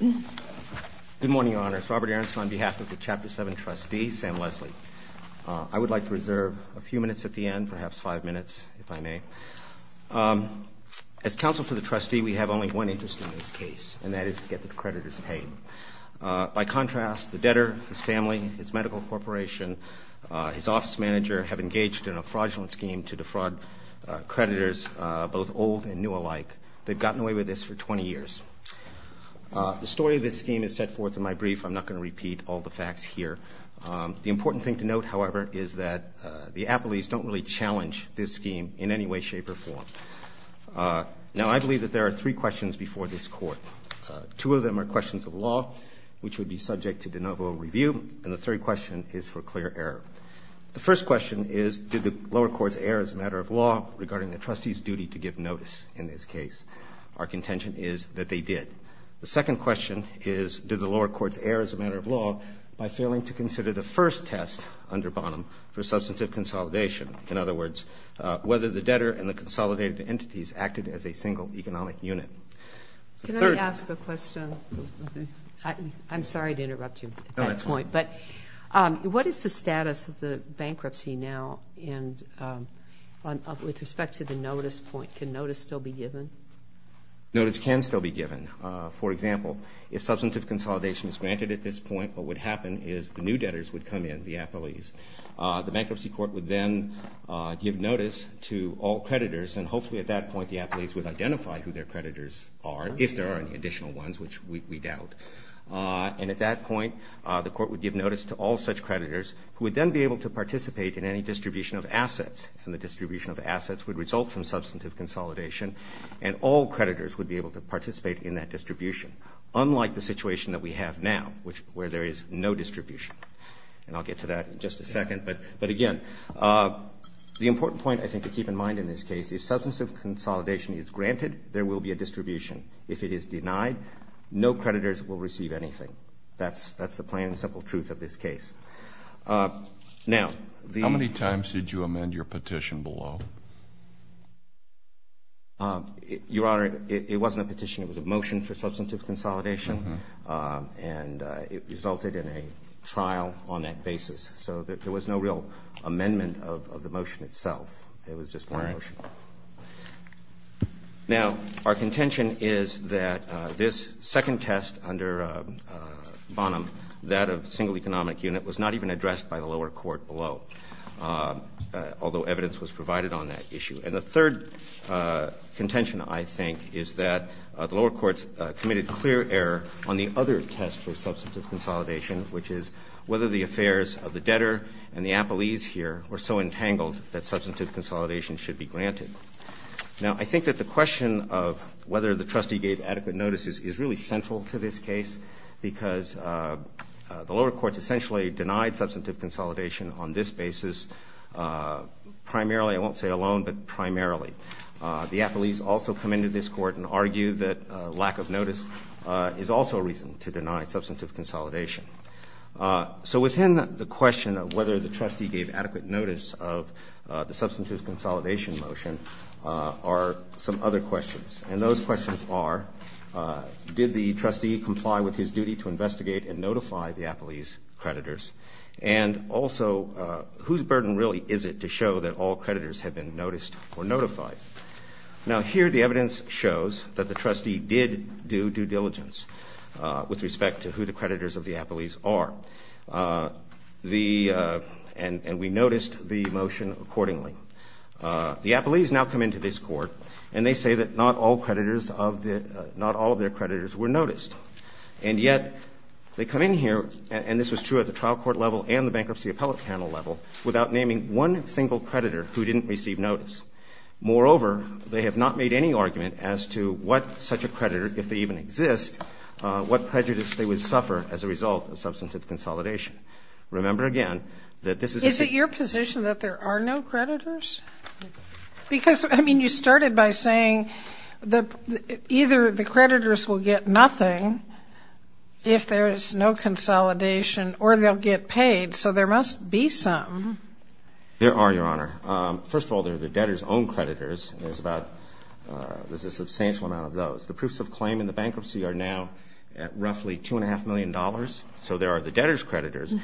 Good morning, Your Honors. Robert Aronson on behalf of the Chapter 7 Trustee, Sam Leslie. I would like to reserve a few minutes at the end, perhaps five minutes, if I may. As counsel for the trustee, we have only one interest in this case, and that is to get the creditors paid. By contrast, the debtor, his family, his medical corporation, his office manager have engaged in a fraudulent scheme to defraud creditors, both old and new alike. They've gotten away with this for 20 years. The story of this scheme is set forth in my brief. I'm not going to repeat all the facts here. The important thing to note, however, is that the appellees don't really challenge this scheme in any way, shape, or form. Now, I believe that there are three questions before this Court. Two of them are questions of law, which would be subject to de novo review, and the third question is for clear error. The first question is, did the lower courts err as a matter of law regarding the trustee's duty to give notice in this case? Our contention is that they did. The second question is, did the lower courts err as a matter of law by failing to consider the first test under Bonham for substantive consolidation, in other words, whether the debtor and the consolidated entities acted as a single economic unit? The third question was, did the lower courts err as a matter of law regarding the trustee's duty to give notice in this case? bankruptcy now and with respect to the notice point, can notice still be given? Notice can still be given. For example, if substantive consolidation is granted at this point, what would happen is the new debtors would come in, the appellees. The bankruptcy court would then give notice to all creditors, and hopefully at that point the appellees would identify who their creditors are, if there are any additional ones, which we doubt. And at that point, the court would give notice to all such creditors, who would then be able to participate in any distribution of assets, and the distribution of assets would result from substantive consolidation, and all creditors would be able to participate in that distribution, unlike the situation that we have now, where there is no distribution. And I'll get to that in just a second, but again, the important point, I think, to keep in mind in this case, if substantive consolidation is granted, there will be a distribution. If it is denied, no creditors will receive anything. That's the plain and simple truth of this case. Now, the How many times did you amend your petition below? Your Honor, it wasn't a petition. It was a motion for substantive consolidation, and it resulted in a trial on that basis. So there was no real amendment of the motion itself. It was just one motion. All right. Now, our contention is that this second test under Bonham, that of single economic unit, was not even addressed by the lower court below, although evidence was provided on that issue. And the third contention, I think, is that the lower courts committed clear error on the other test for substantive consolidation, which is whether the affairs of the debtor and the appellees here were so entangled that substantive consolidation should be granted. Now, I think that the question of whether the trustee gave adequate notice is really central to this case, because the lower courts essentially denied substantive consolidation on this basis primarily. I won't say alone, but primarily. The appellees also come into this court and argue that lack of notice is also a reason to deny substantive consolidation. So within the question of whether the trustee gave adequate notice of the substantive consolidation motion are some other questions. And those questions are, did the trustee comply with his duty to investigate and notify the appellees' creditors? And also, whose burden really is it to show that all creditors have been noticed or notified? Now, here the evidence shows that the trustee did do due diligence with respect to who the creditors of the appellees are. And we noticed the motion accordingly. The appellees now come into this court and they say that not all creditors of the – not all of their creditors were noticed. And yet, they come in here, and this was true at the trial court level and the bankruptcy appellate panel level, without naming one single creditor who didn't receive notice. Moreover, they have not made any argument as to what such a creditor, if they even exist, what prejudice they would suffer as a result of substantive consolidation. Remember, again, that this is a – Is it your position that there are no creditors? Because, I mean, you started by saying that either the creditors will get nothing if there is no consolidation, or they'll get paid. So there must be some. There are, Your Honor. First of all, there are the debtors' own creditors. There's about – there's a substantial amount of those. The proofs of claim in the bankruptcy are now at roughly $2.5 million. So there are the debtors' creditors.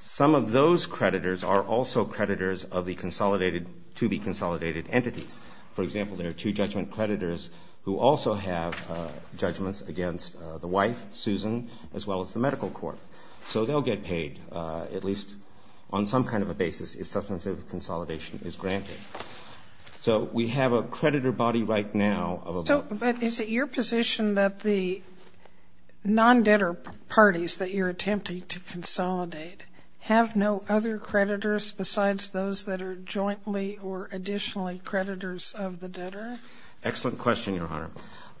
Some of those creditors are also creditors of the consolidated – to be consolidated entities. For example, there are two judgment creditors who also have judgments against the wife, Susan, as well as the medical court. So they'll get paid, at least on some kind of a basis, if substantive consolidation is granted. So we have a creditor body right now. But is it your position that the non-debtor parties that you're attempting to consolidate have no other creditors besides those that are jointly or additionally creditors of the debtor? Excellent question, Your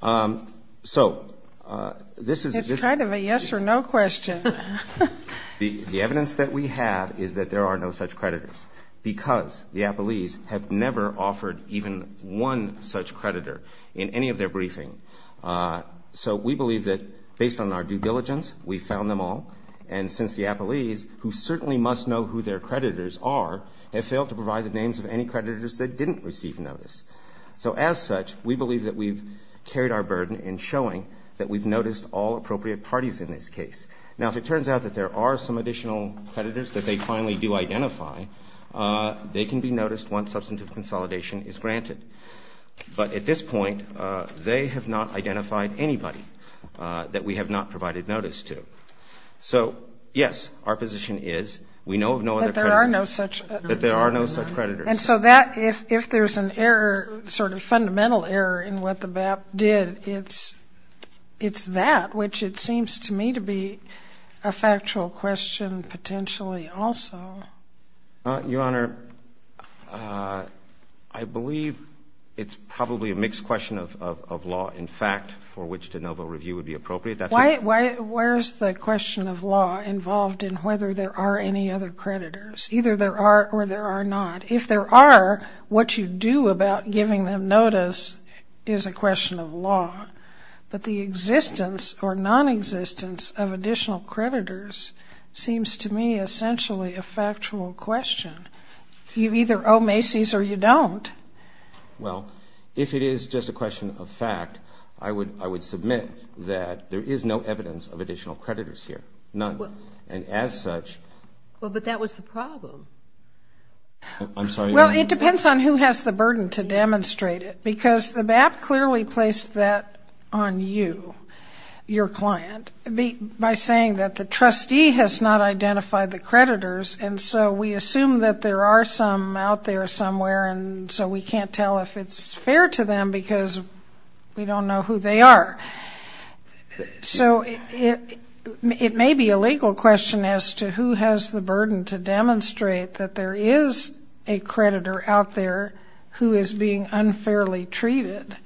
Honor. So this is – It's kind of a yes or no question. The evidence that we have is that there are no such creditors, because the appellees have never offered even one such creditor in any of their briefing. So we believe that, based on our due diligence, we found them all. And since the appellees, who certainly must know who their creditors are, have failed to provide the names of any creditors that didn't receive notice. So as such, we believe that we've carried our burden in showing that we've noticed all appropriate parties in this case. Now, if it turns out that there are some additional creditors that they finally do identify, they can be noticed once substantive consolidation is granted. But at this point, they have not identified anybody that we have not provided notice to. So, yes, our position is we know of no other creditors. That there are no such – That there are no such creditors. And so that – if there's an error, sort of fundamental error, in what the BAP did, it's that, which it seems to me to be a factual question potentially also. Your Honor, I believe it's probably a mixed question of law, in fact, for which de novo review would be appropriate. That's a – Why – where's the question of law involved in whether there are any other creditors? Either there are or there are not. If there are, what you do about giving them notice is a question of law. But the existence or nonexistence of additional creditors seems to me essentially a factual question. You either owe Macy's or you don't. Well, if it is just a question of fact, I would submit that there is no evidence of additional creditors here. And as such – Well, but that was the problem. I'm sorry. Well, it depends on who has the burden to demonstrate it. Because the BAP clearly placed that on you, your client, by saying that the trustee has not identified the creditors, and so we assume that there are some out there somewhere, and so we can't tell if it's fair to them because we don't know who they are. So it may be a legal question as to who has the burden to demonstrate that there is a creditor out there who is being unfairly treated.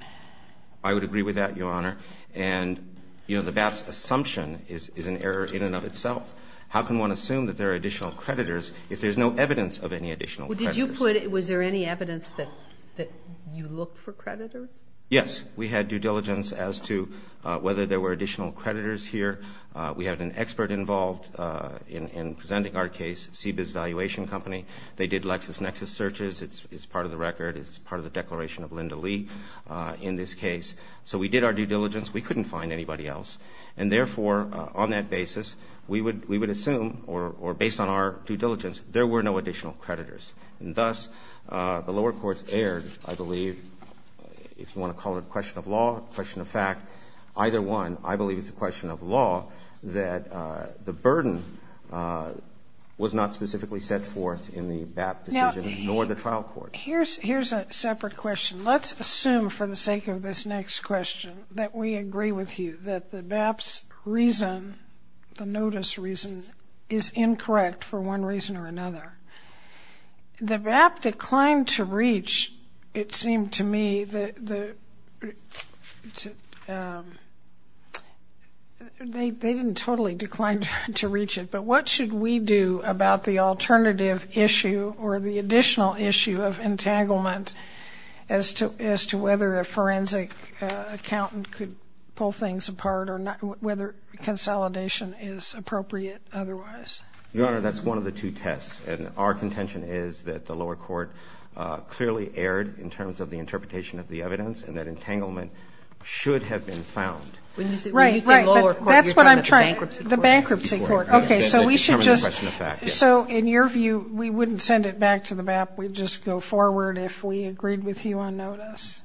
I would agree with that, Your Honor. And, you know, the BAP's assumption is an error in and of itself. How can one assume that there are additional creditors if there's no evidence of any additional creditors? Well, did you put – was there any evidence that you looked for creditors? Yes. We had due diligence as to whether there were additional creditors here. We had an expert involved in presenting our case, CBIZ Valuation Company. They did LexisNexis searches. It's part of the record. It's part of the Declaration of Linda Lee in this case. So we did our due diligence. We couldn't find anybody else. And therefore, on that basis, we would assume, or based on our due diligence, there were no additional creditors. And thus, the lower courts erred, I believe, if you want to call it a question of law, a question of fact. Either one, I believe it's a question of law that the burden was not specifically set forth in the BAP decision nor the trial court. Now, here's a separate question. Let's assume for the sake of this next question that we agree with you, that the BAP's reason, the notice reason, is incorrect for one reason or another. The BAP declined to reach, it seemed to me, they didn't totally decline to reach it. But what should we do about the alternative issue or the additional issue of entanglement as to whether a forensic accountant could pull things apart or whether consolidation is appropriate otherwise? Your Honor, that's one of the two tests. And our contention is that the lower court clearly erred in terms of the interpretation of the evidence and that entanglement should have been found. Right, right. But that's what I'm trying to say. The bankruptcy court. The bankruptcy court. Okay. So we should just. So in your view, we wouldn't send it back to the BAP. We'd just go forward if we agreed with you on notice.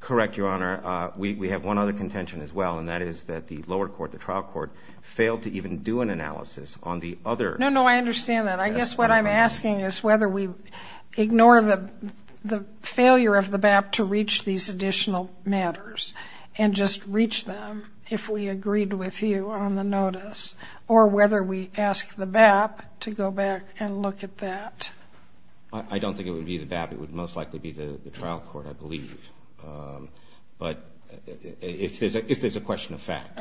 Correct, Your Honor. We have one other contention as well, and that is that the lower court, the trial analysis on the other. No, no, I understand that. I guess what I'm asking is whether we ignore the failure of the BAP to reach these additional matters and just reach them if we agreed with you on the notice or whether we ask the BAP to go back and look at that. I don't think it would be the BAP. It would most likely be the trial court, I believe. But if there's a question of fact.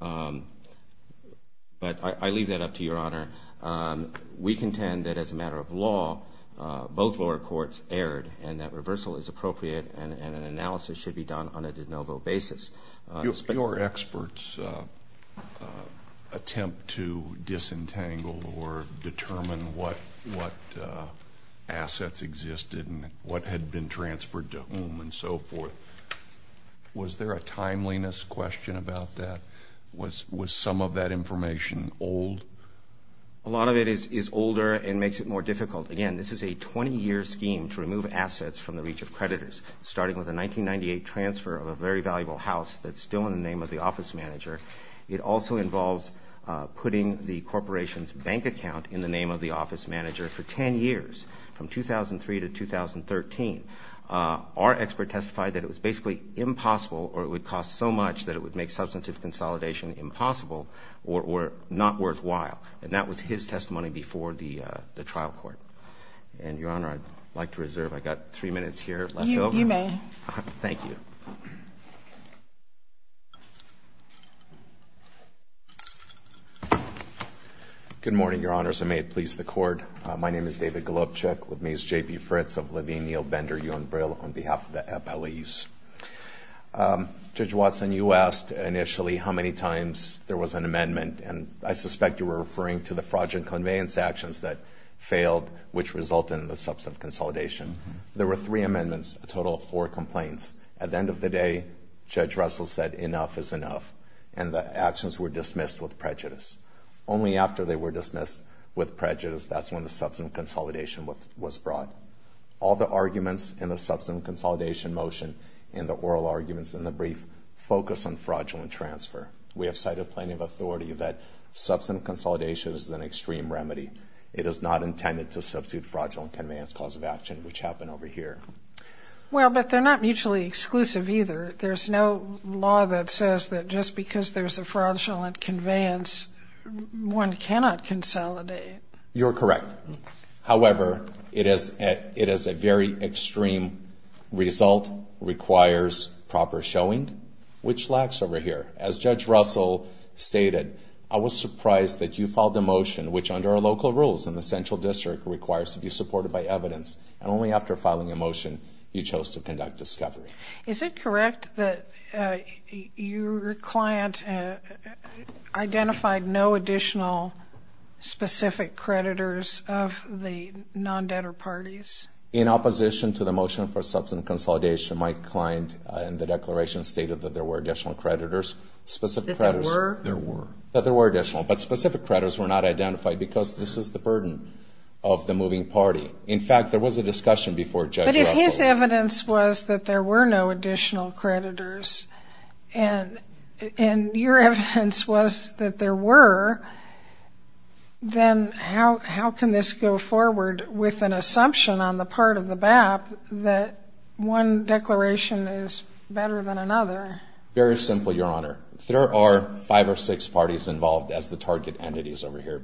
But I leave that up to Your Honor. We contend that as a matter of law, both lower courts erred and that reversal is appropriate and an analysis should be done on a de novo basis. Your experts attempt to disentangle or determine what assets existed and what had been transferred to whom and so forth. Was there a timeliness question about that? Was some of that information old? A lot of it is older and makes it more difficult. Again, this is a 20-year scheme to remove assets from the reach of creditors, starting with a 1998 transfer of a very valuable house that's still in the name of the office manager. It also involves putting the corporation's bank account in the name of the office manager for 10 years, from 2003 to 2013. Our expert testified that it was basically impossible or it would cost so much that it would make substantive consolidation impossible or not worthwhile. And that was his testimony before the trial court. And Your Honor, I'd like to reserve. I've got three minutes here left over. You may. Thank you. Good morning, Your Honors. And may it please the Court. My name is David Golubchik. With me is J.P. Fritz of Levine Neal Bender U.N. Brill on behalf of the appellees. Judge Watson, you asked initially how many times there was an amendment. And I suspect you were referring to the fraudulent conveyance actions that failed, which resulted in the substantive consolidation. There were three amendments, a total of four complaints. At the end of the day, Judge Russell said enough is enough. And the actions were dismissed with prejudice. Only after they were dismissed with prejudice, that's when the substantive consolidation was brought. All the arguments in the substantive consolidation motion and the oral arguments in the brief focus on fraudulent transfer. We have cited plenty of authority that substantive consolidation is an extreme remedy. It is not intended to substitute fraudulent conveyance cause of action, which happened over here. Well, but they're not mutually exclusive either. There's no law that says that just because there's a fraudulent conveyance, one cannot consolidate. You're correct. However, it is a very extreme result, requires proper showing, which lacks over here. As Judge Russell stated, I was surprised that you filed a motion, which under our local rules in the central district, requires to be supported by evidence. And only after filing a motion, you chose to conduct discovery. Is it correct that your client identified no additional specific creditors of the non-debtor parties? In opposition to the motion for substantive consolidation, my client in the declaration stated that there were additional creditors. That there were? There were. That there were additional. But specific creditors were not identified because this is the burden of the moving party. In fact, there was a discussion before Judge Russell. But if his evidence was that there were no additional creditors, and your evidence was that there were, then how can this go forward with an assumption on the part of the BAP that one declaration is better than another? Very simple, Your Honor. There are five or six parties involved as the target entities over here,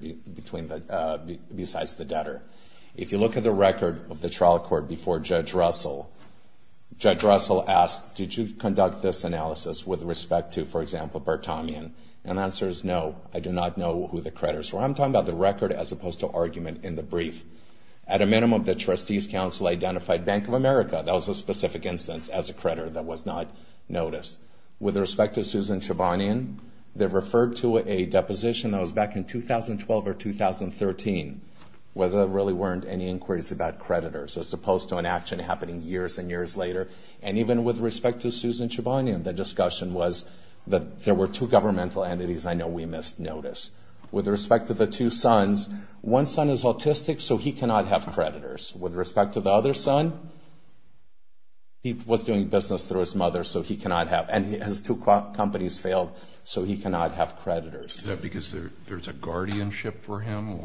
besides the debtor. If you look at the record of the trial court before Judge Russell, Judge Russell asked, did you conduct this analysis with respect to, for example, Bertomian? And the answer is no. I do not know who the creditors were. I'm talking about the record as opposed to argument in the brief. At a minimum, the Trustees Council identified Bank of America. That was a specific instance as a creditor that was not noticed. With respect to Susan Chebanian, they referred to a deposition that was back in 2012 or 2013, where there really weren't any inquiries about creditors, as opposed to an action happening years and years later. And even with respect to Susan Chebanian, the discussion was that there were two governmental entities. I know we missed notice. With respect to the two sons, one son is autistic, so he cannot have creditors. With respect to the other son, he was doing business through his mother, so he cannot have, and his two companies failed, so he cannot have creditors. Is that because there's a guardianship for him?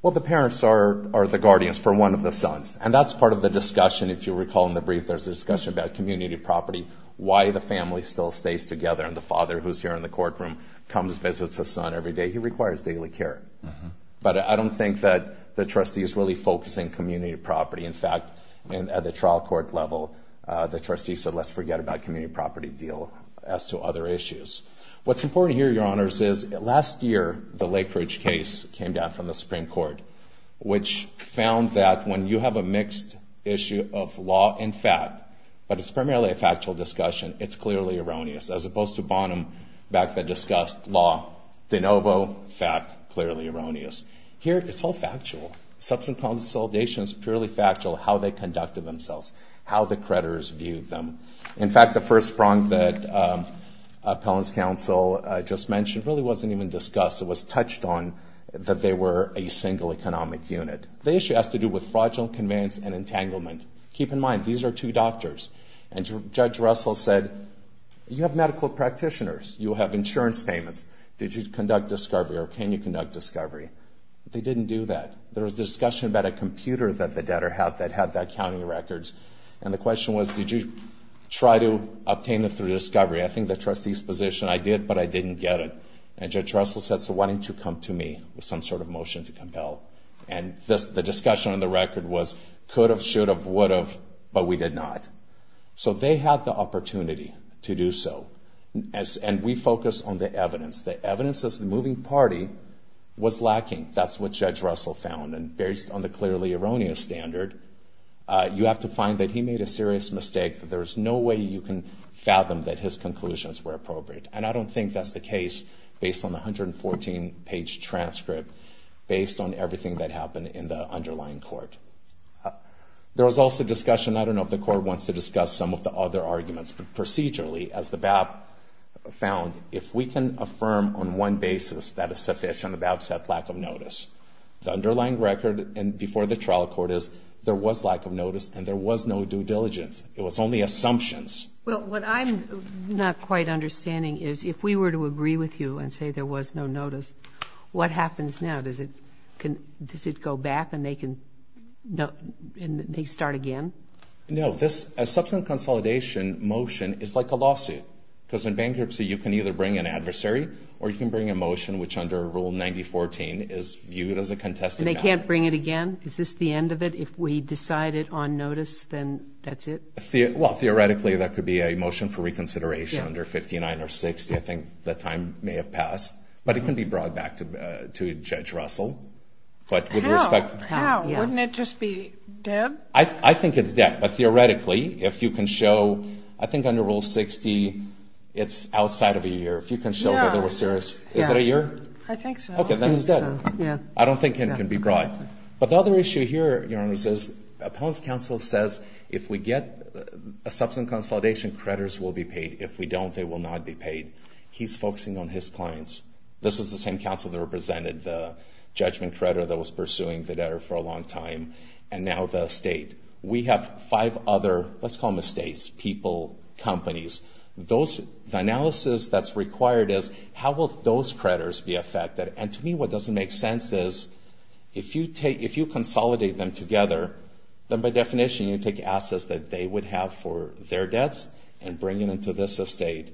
Well, the parents are the guardians for one of the sons. And that's part of the discussion, if you recall in the brief, there's a discussion about community property, why the family still stays together, and the father, who's here in the courtroom, comes, visits his son every day. He requires daily care. But I don't think that the trustee is really focusing community property. In fact, at the trial court level, the trustee said, let's forget about community property deal as to other issues. What's important here, Your Honors, is last year, the Lake Ridge case came down from the Supreme Court, which found that when you have a mixed issue of law and fact, but it's primarily a factual discussion, it's clearly erroneous. As opposed to Bonham, back then, discussed law, de novo, fact, clearly erroneous. Here, it's all factual. Substance Problems and Solidation is purely factual, how they conducted themselves, how the creditors viewed them. In fact, the first prong that Appellant's Counsel just mentioned really wasn't even discussed. It was touched on that they were a single economic unit. The issue has to do with fraudulent conveyance and entanglement. Keep in mind, these are two doctors. And Judge Russell said, you have medical practitioners. You have insurance payments. Did you conduct discovery, or can you conduct discovery? They didn't do that. There was discussion about a computer that the debtor had that had the accounting records. And the question was, did you try to obtain it through discovery? I think the trustee's position, I did, but I didn't get it. And Judge Russell said, so why didn't you come to me with some sort of motion to compel? And the discussion on the record was, could have, should have, would have, but we did not. So they had the opportunity to do so. And we focused on the evidence. The evidence of the moving party was lacking. That's what Judge Russell found. And based on the clearly erroneous standard, you have to find that he made a serious mistake. There's no way you can fathom that his conclusions were appropriate. And I don't think that's the case based on the 114-page transcript, based on everything that happened in the underlying court. There was also discussion, I don't know if the Court wants to discuss some of the other arguments, but procedurally, as the BAP found, if we can affirm on one basis that a sufficient of absent lack of notice, the underlying record before the trial court is there was lack of notice and there was no due diligence. It was only assumptions. Well, what I'm not quite understanding is if we were to agree with you and say there was no notice, what happens now? Does it go back and they can start again? No. A substance consolidation motion is like a lawsuit, because in bankruptcy you can either bring an adversary or you can bring a motion, which under Rule 90.14 is viewed as a contested value. And they can't bring it again? Is this the end of it? If we decide it on notice, then that's it? Well, theoretically, that could be a motion for reconsideration under 59 or 60. I think that time may have passed. But it can be brought back to Judge Russell. How? Wouldn't it just be dead? I think it's dead. But theoretically, if you can show, I think under Rule 60, it's outside of a year. If you can show whether it was serious. Is it a year? I think so. Okay, then it's dead. I don't think it can be brought. But the other issue here, Your Honor, is appellant's counsel says if we get a substance consolidation, creditors will be paid. If we don't, they will not be paid. He's focusing on his clients. This is the same counsel that represented the judgment creditor that was pursuing the debtor for a long time. And now the estate. We have five other, let's call them estates, people, companies. The analysis that's required is how will those creditors be affected? And to me, what doesn't make sense is if you consolidate them together, then by definition, you take assets that they would have for their debts and bring them into this estate,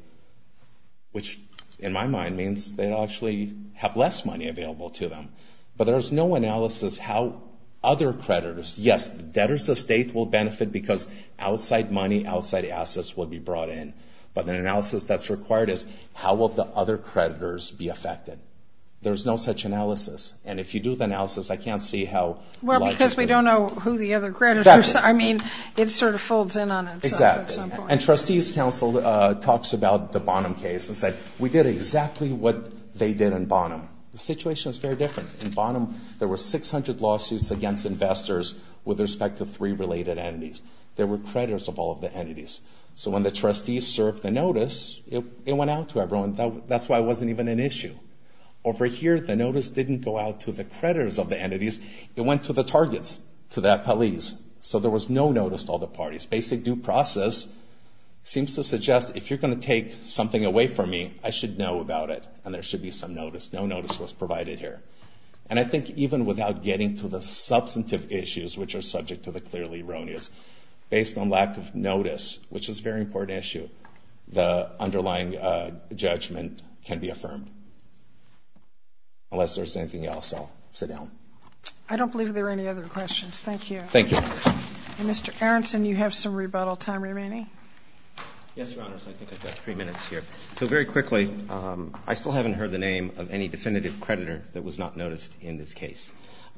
which in my mind means they'll actually have less money available to them. But there's no analysis how other creditors, yes, debtors' estate will benefit because outside money, outside assets will be brought in. But the analysis that's required is how will the other creditors be affected? There's no such analysis. And if you do the analysis, I can't see how likely. Because we don't know who the other creditors are. I mean, it sort of folds in on itself at some point. Exactly. And trustees' counsel talks about the Bonham case and said we did exactly what they did in Bonham. The situation is very different. In Bonham, there were 600 lawsuits against investors with respect to three related entities. There were creditors of all of the entities. So when the trustees served the notice, it went out to everyone. That's why it wasn't even an issue. Over here, the notice didn't go out to the creditors of the entities. It went to the targets, to that police. So there was no notice to all the parties. Basic due process seems to suggest if you're going to take something away from me, I should know about it. And there should be some notice. No notice was provided here. And I think even without getting to the substantive issues, which are subject to the clearly erroneous, based on lack of notice, which is a very important issue, the underlying judgment can be affirmed. Unless there's anything else, I'll sit down. I don't believe there are any other questions. Thank you. Thank you. Mr. Aronson, you have some rebuttal time remaining. Yes, Your Honors. I think I've got three minutes here. So very quickly, I still haven't heard the name of any definitive creditor that was not noticed in this case.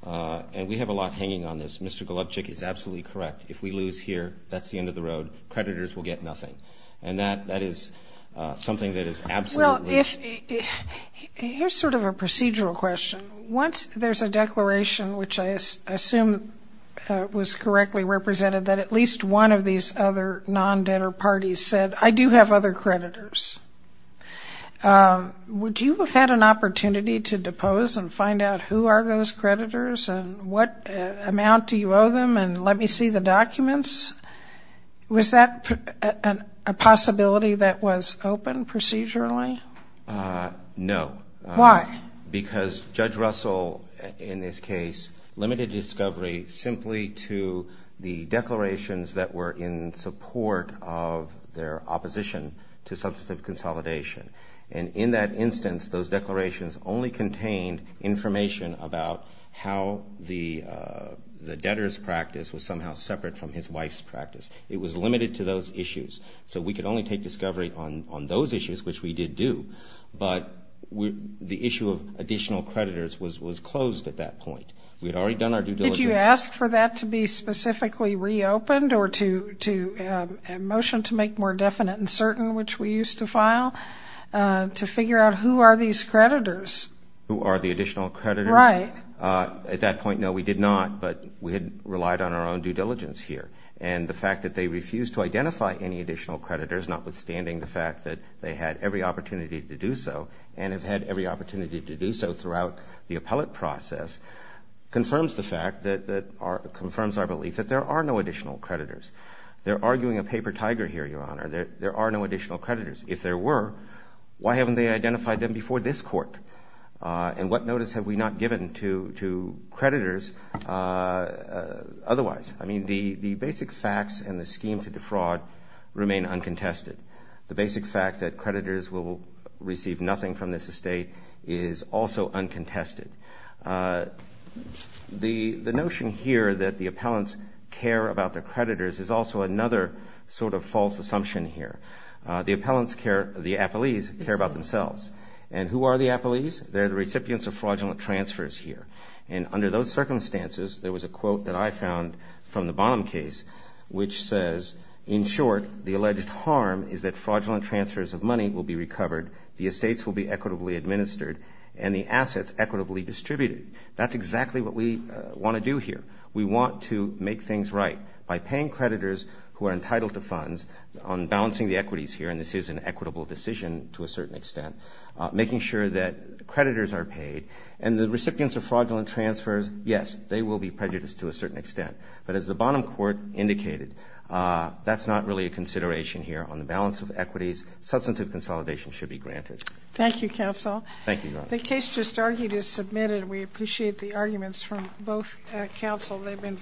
And we have a lot hanging on this. Mr. Golubchik is absolutely correct. If we lose here, that's the end of the road. Creditors will get nothing. And that is something that is absolutely true. Well, here's sort of a procedural question. Once there's a declaration, which I assume was correctly represented, that at least one of these other non-debtor parties said, I do have other creditors, would you have had an opportunity to depose and find out who are those creditors and what amount do you owe them and let me see the documents? Was that a possibility that was open procedurally? No. Why? Because Judge Russell, in this case, limited discovery simply to the declarations that were in support of their opposition to substantive consolidation. And in that instance, those declarations only contained information about how the debtor's practice was somehow separate from his wife's practice. It was limited to those issues. So we could only take discovery on those issues, which we did do. But the issue of additional creditors was closed at that point. We had already done our due diligence. Did you ask for that to be specifically reopened or to motion to make more definite and certain, which we used to file, to figure out who are these creditors? Who are the additional creditors? Right. At that point, no, we did not, but we had relied on our own due diligence here. And the fact that they refused to identify any additional creditors, notwithstanding the fact that they had every opportunity to do so and have had every opportunity to do so throughout the appellate process, confirms the fact that our ‑‑ confirms our belief that there are no additional creditors. They're arguing a paper tiger here, Your Honor. There are no additional creditors. If there were, why haven't they identified them before this Court? And what notice have we not given to creditors otherwise? I mean, the basic facts and the scheme to defraud remain uncontested. The basic fact that creditors will receive nothing from this estate is also uncontested. The notion here that the appellants care about their creditors is also another sort of false assumption here. The appellants care ‑‑ the appellees care about themselves. And who are the appellees? They're the recipients of fraudulent transfers here. And under those circumstances, there was a quote that I found from the Bonham case, which says, in short, the alleged harm is that fraudulent transfers of money will be recovered, the estates will be equitably administered, and the assets equitably distributed. That's exactly what we want to do here. We want to make things right. By paying creditors who are entitled to funds, on balancing the equities here, and this is an equitable decision to a certain extent, making sure that creditors are paid. And the recipients of fraudulent transfers, yes, they will be prejudiced to a certain extent. But as the Bonham Court indicated, that's not really a consideration here. On the balance of equities, substantive consolidation should be granted. Thank you, counsel. Thank you, Your Honor. The case just argued is submitted. We appreciate the arguments from both counsel.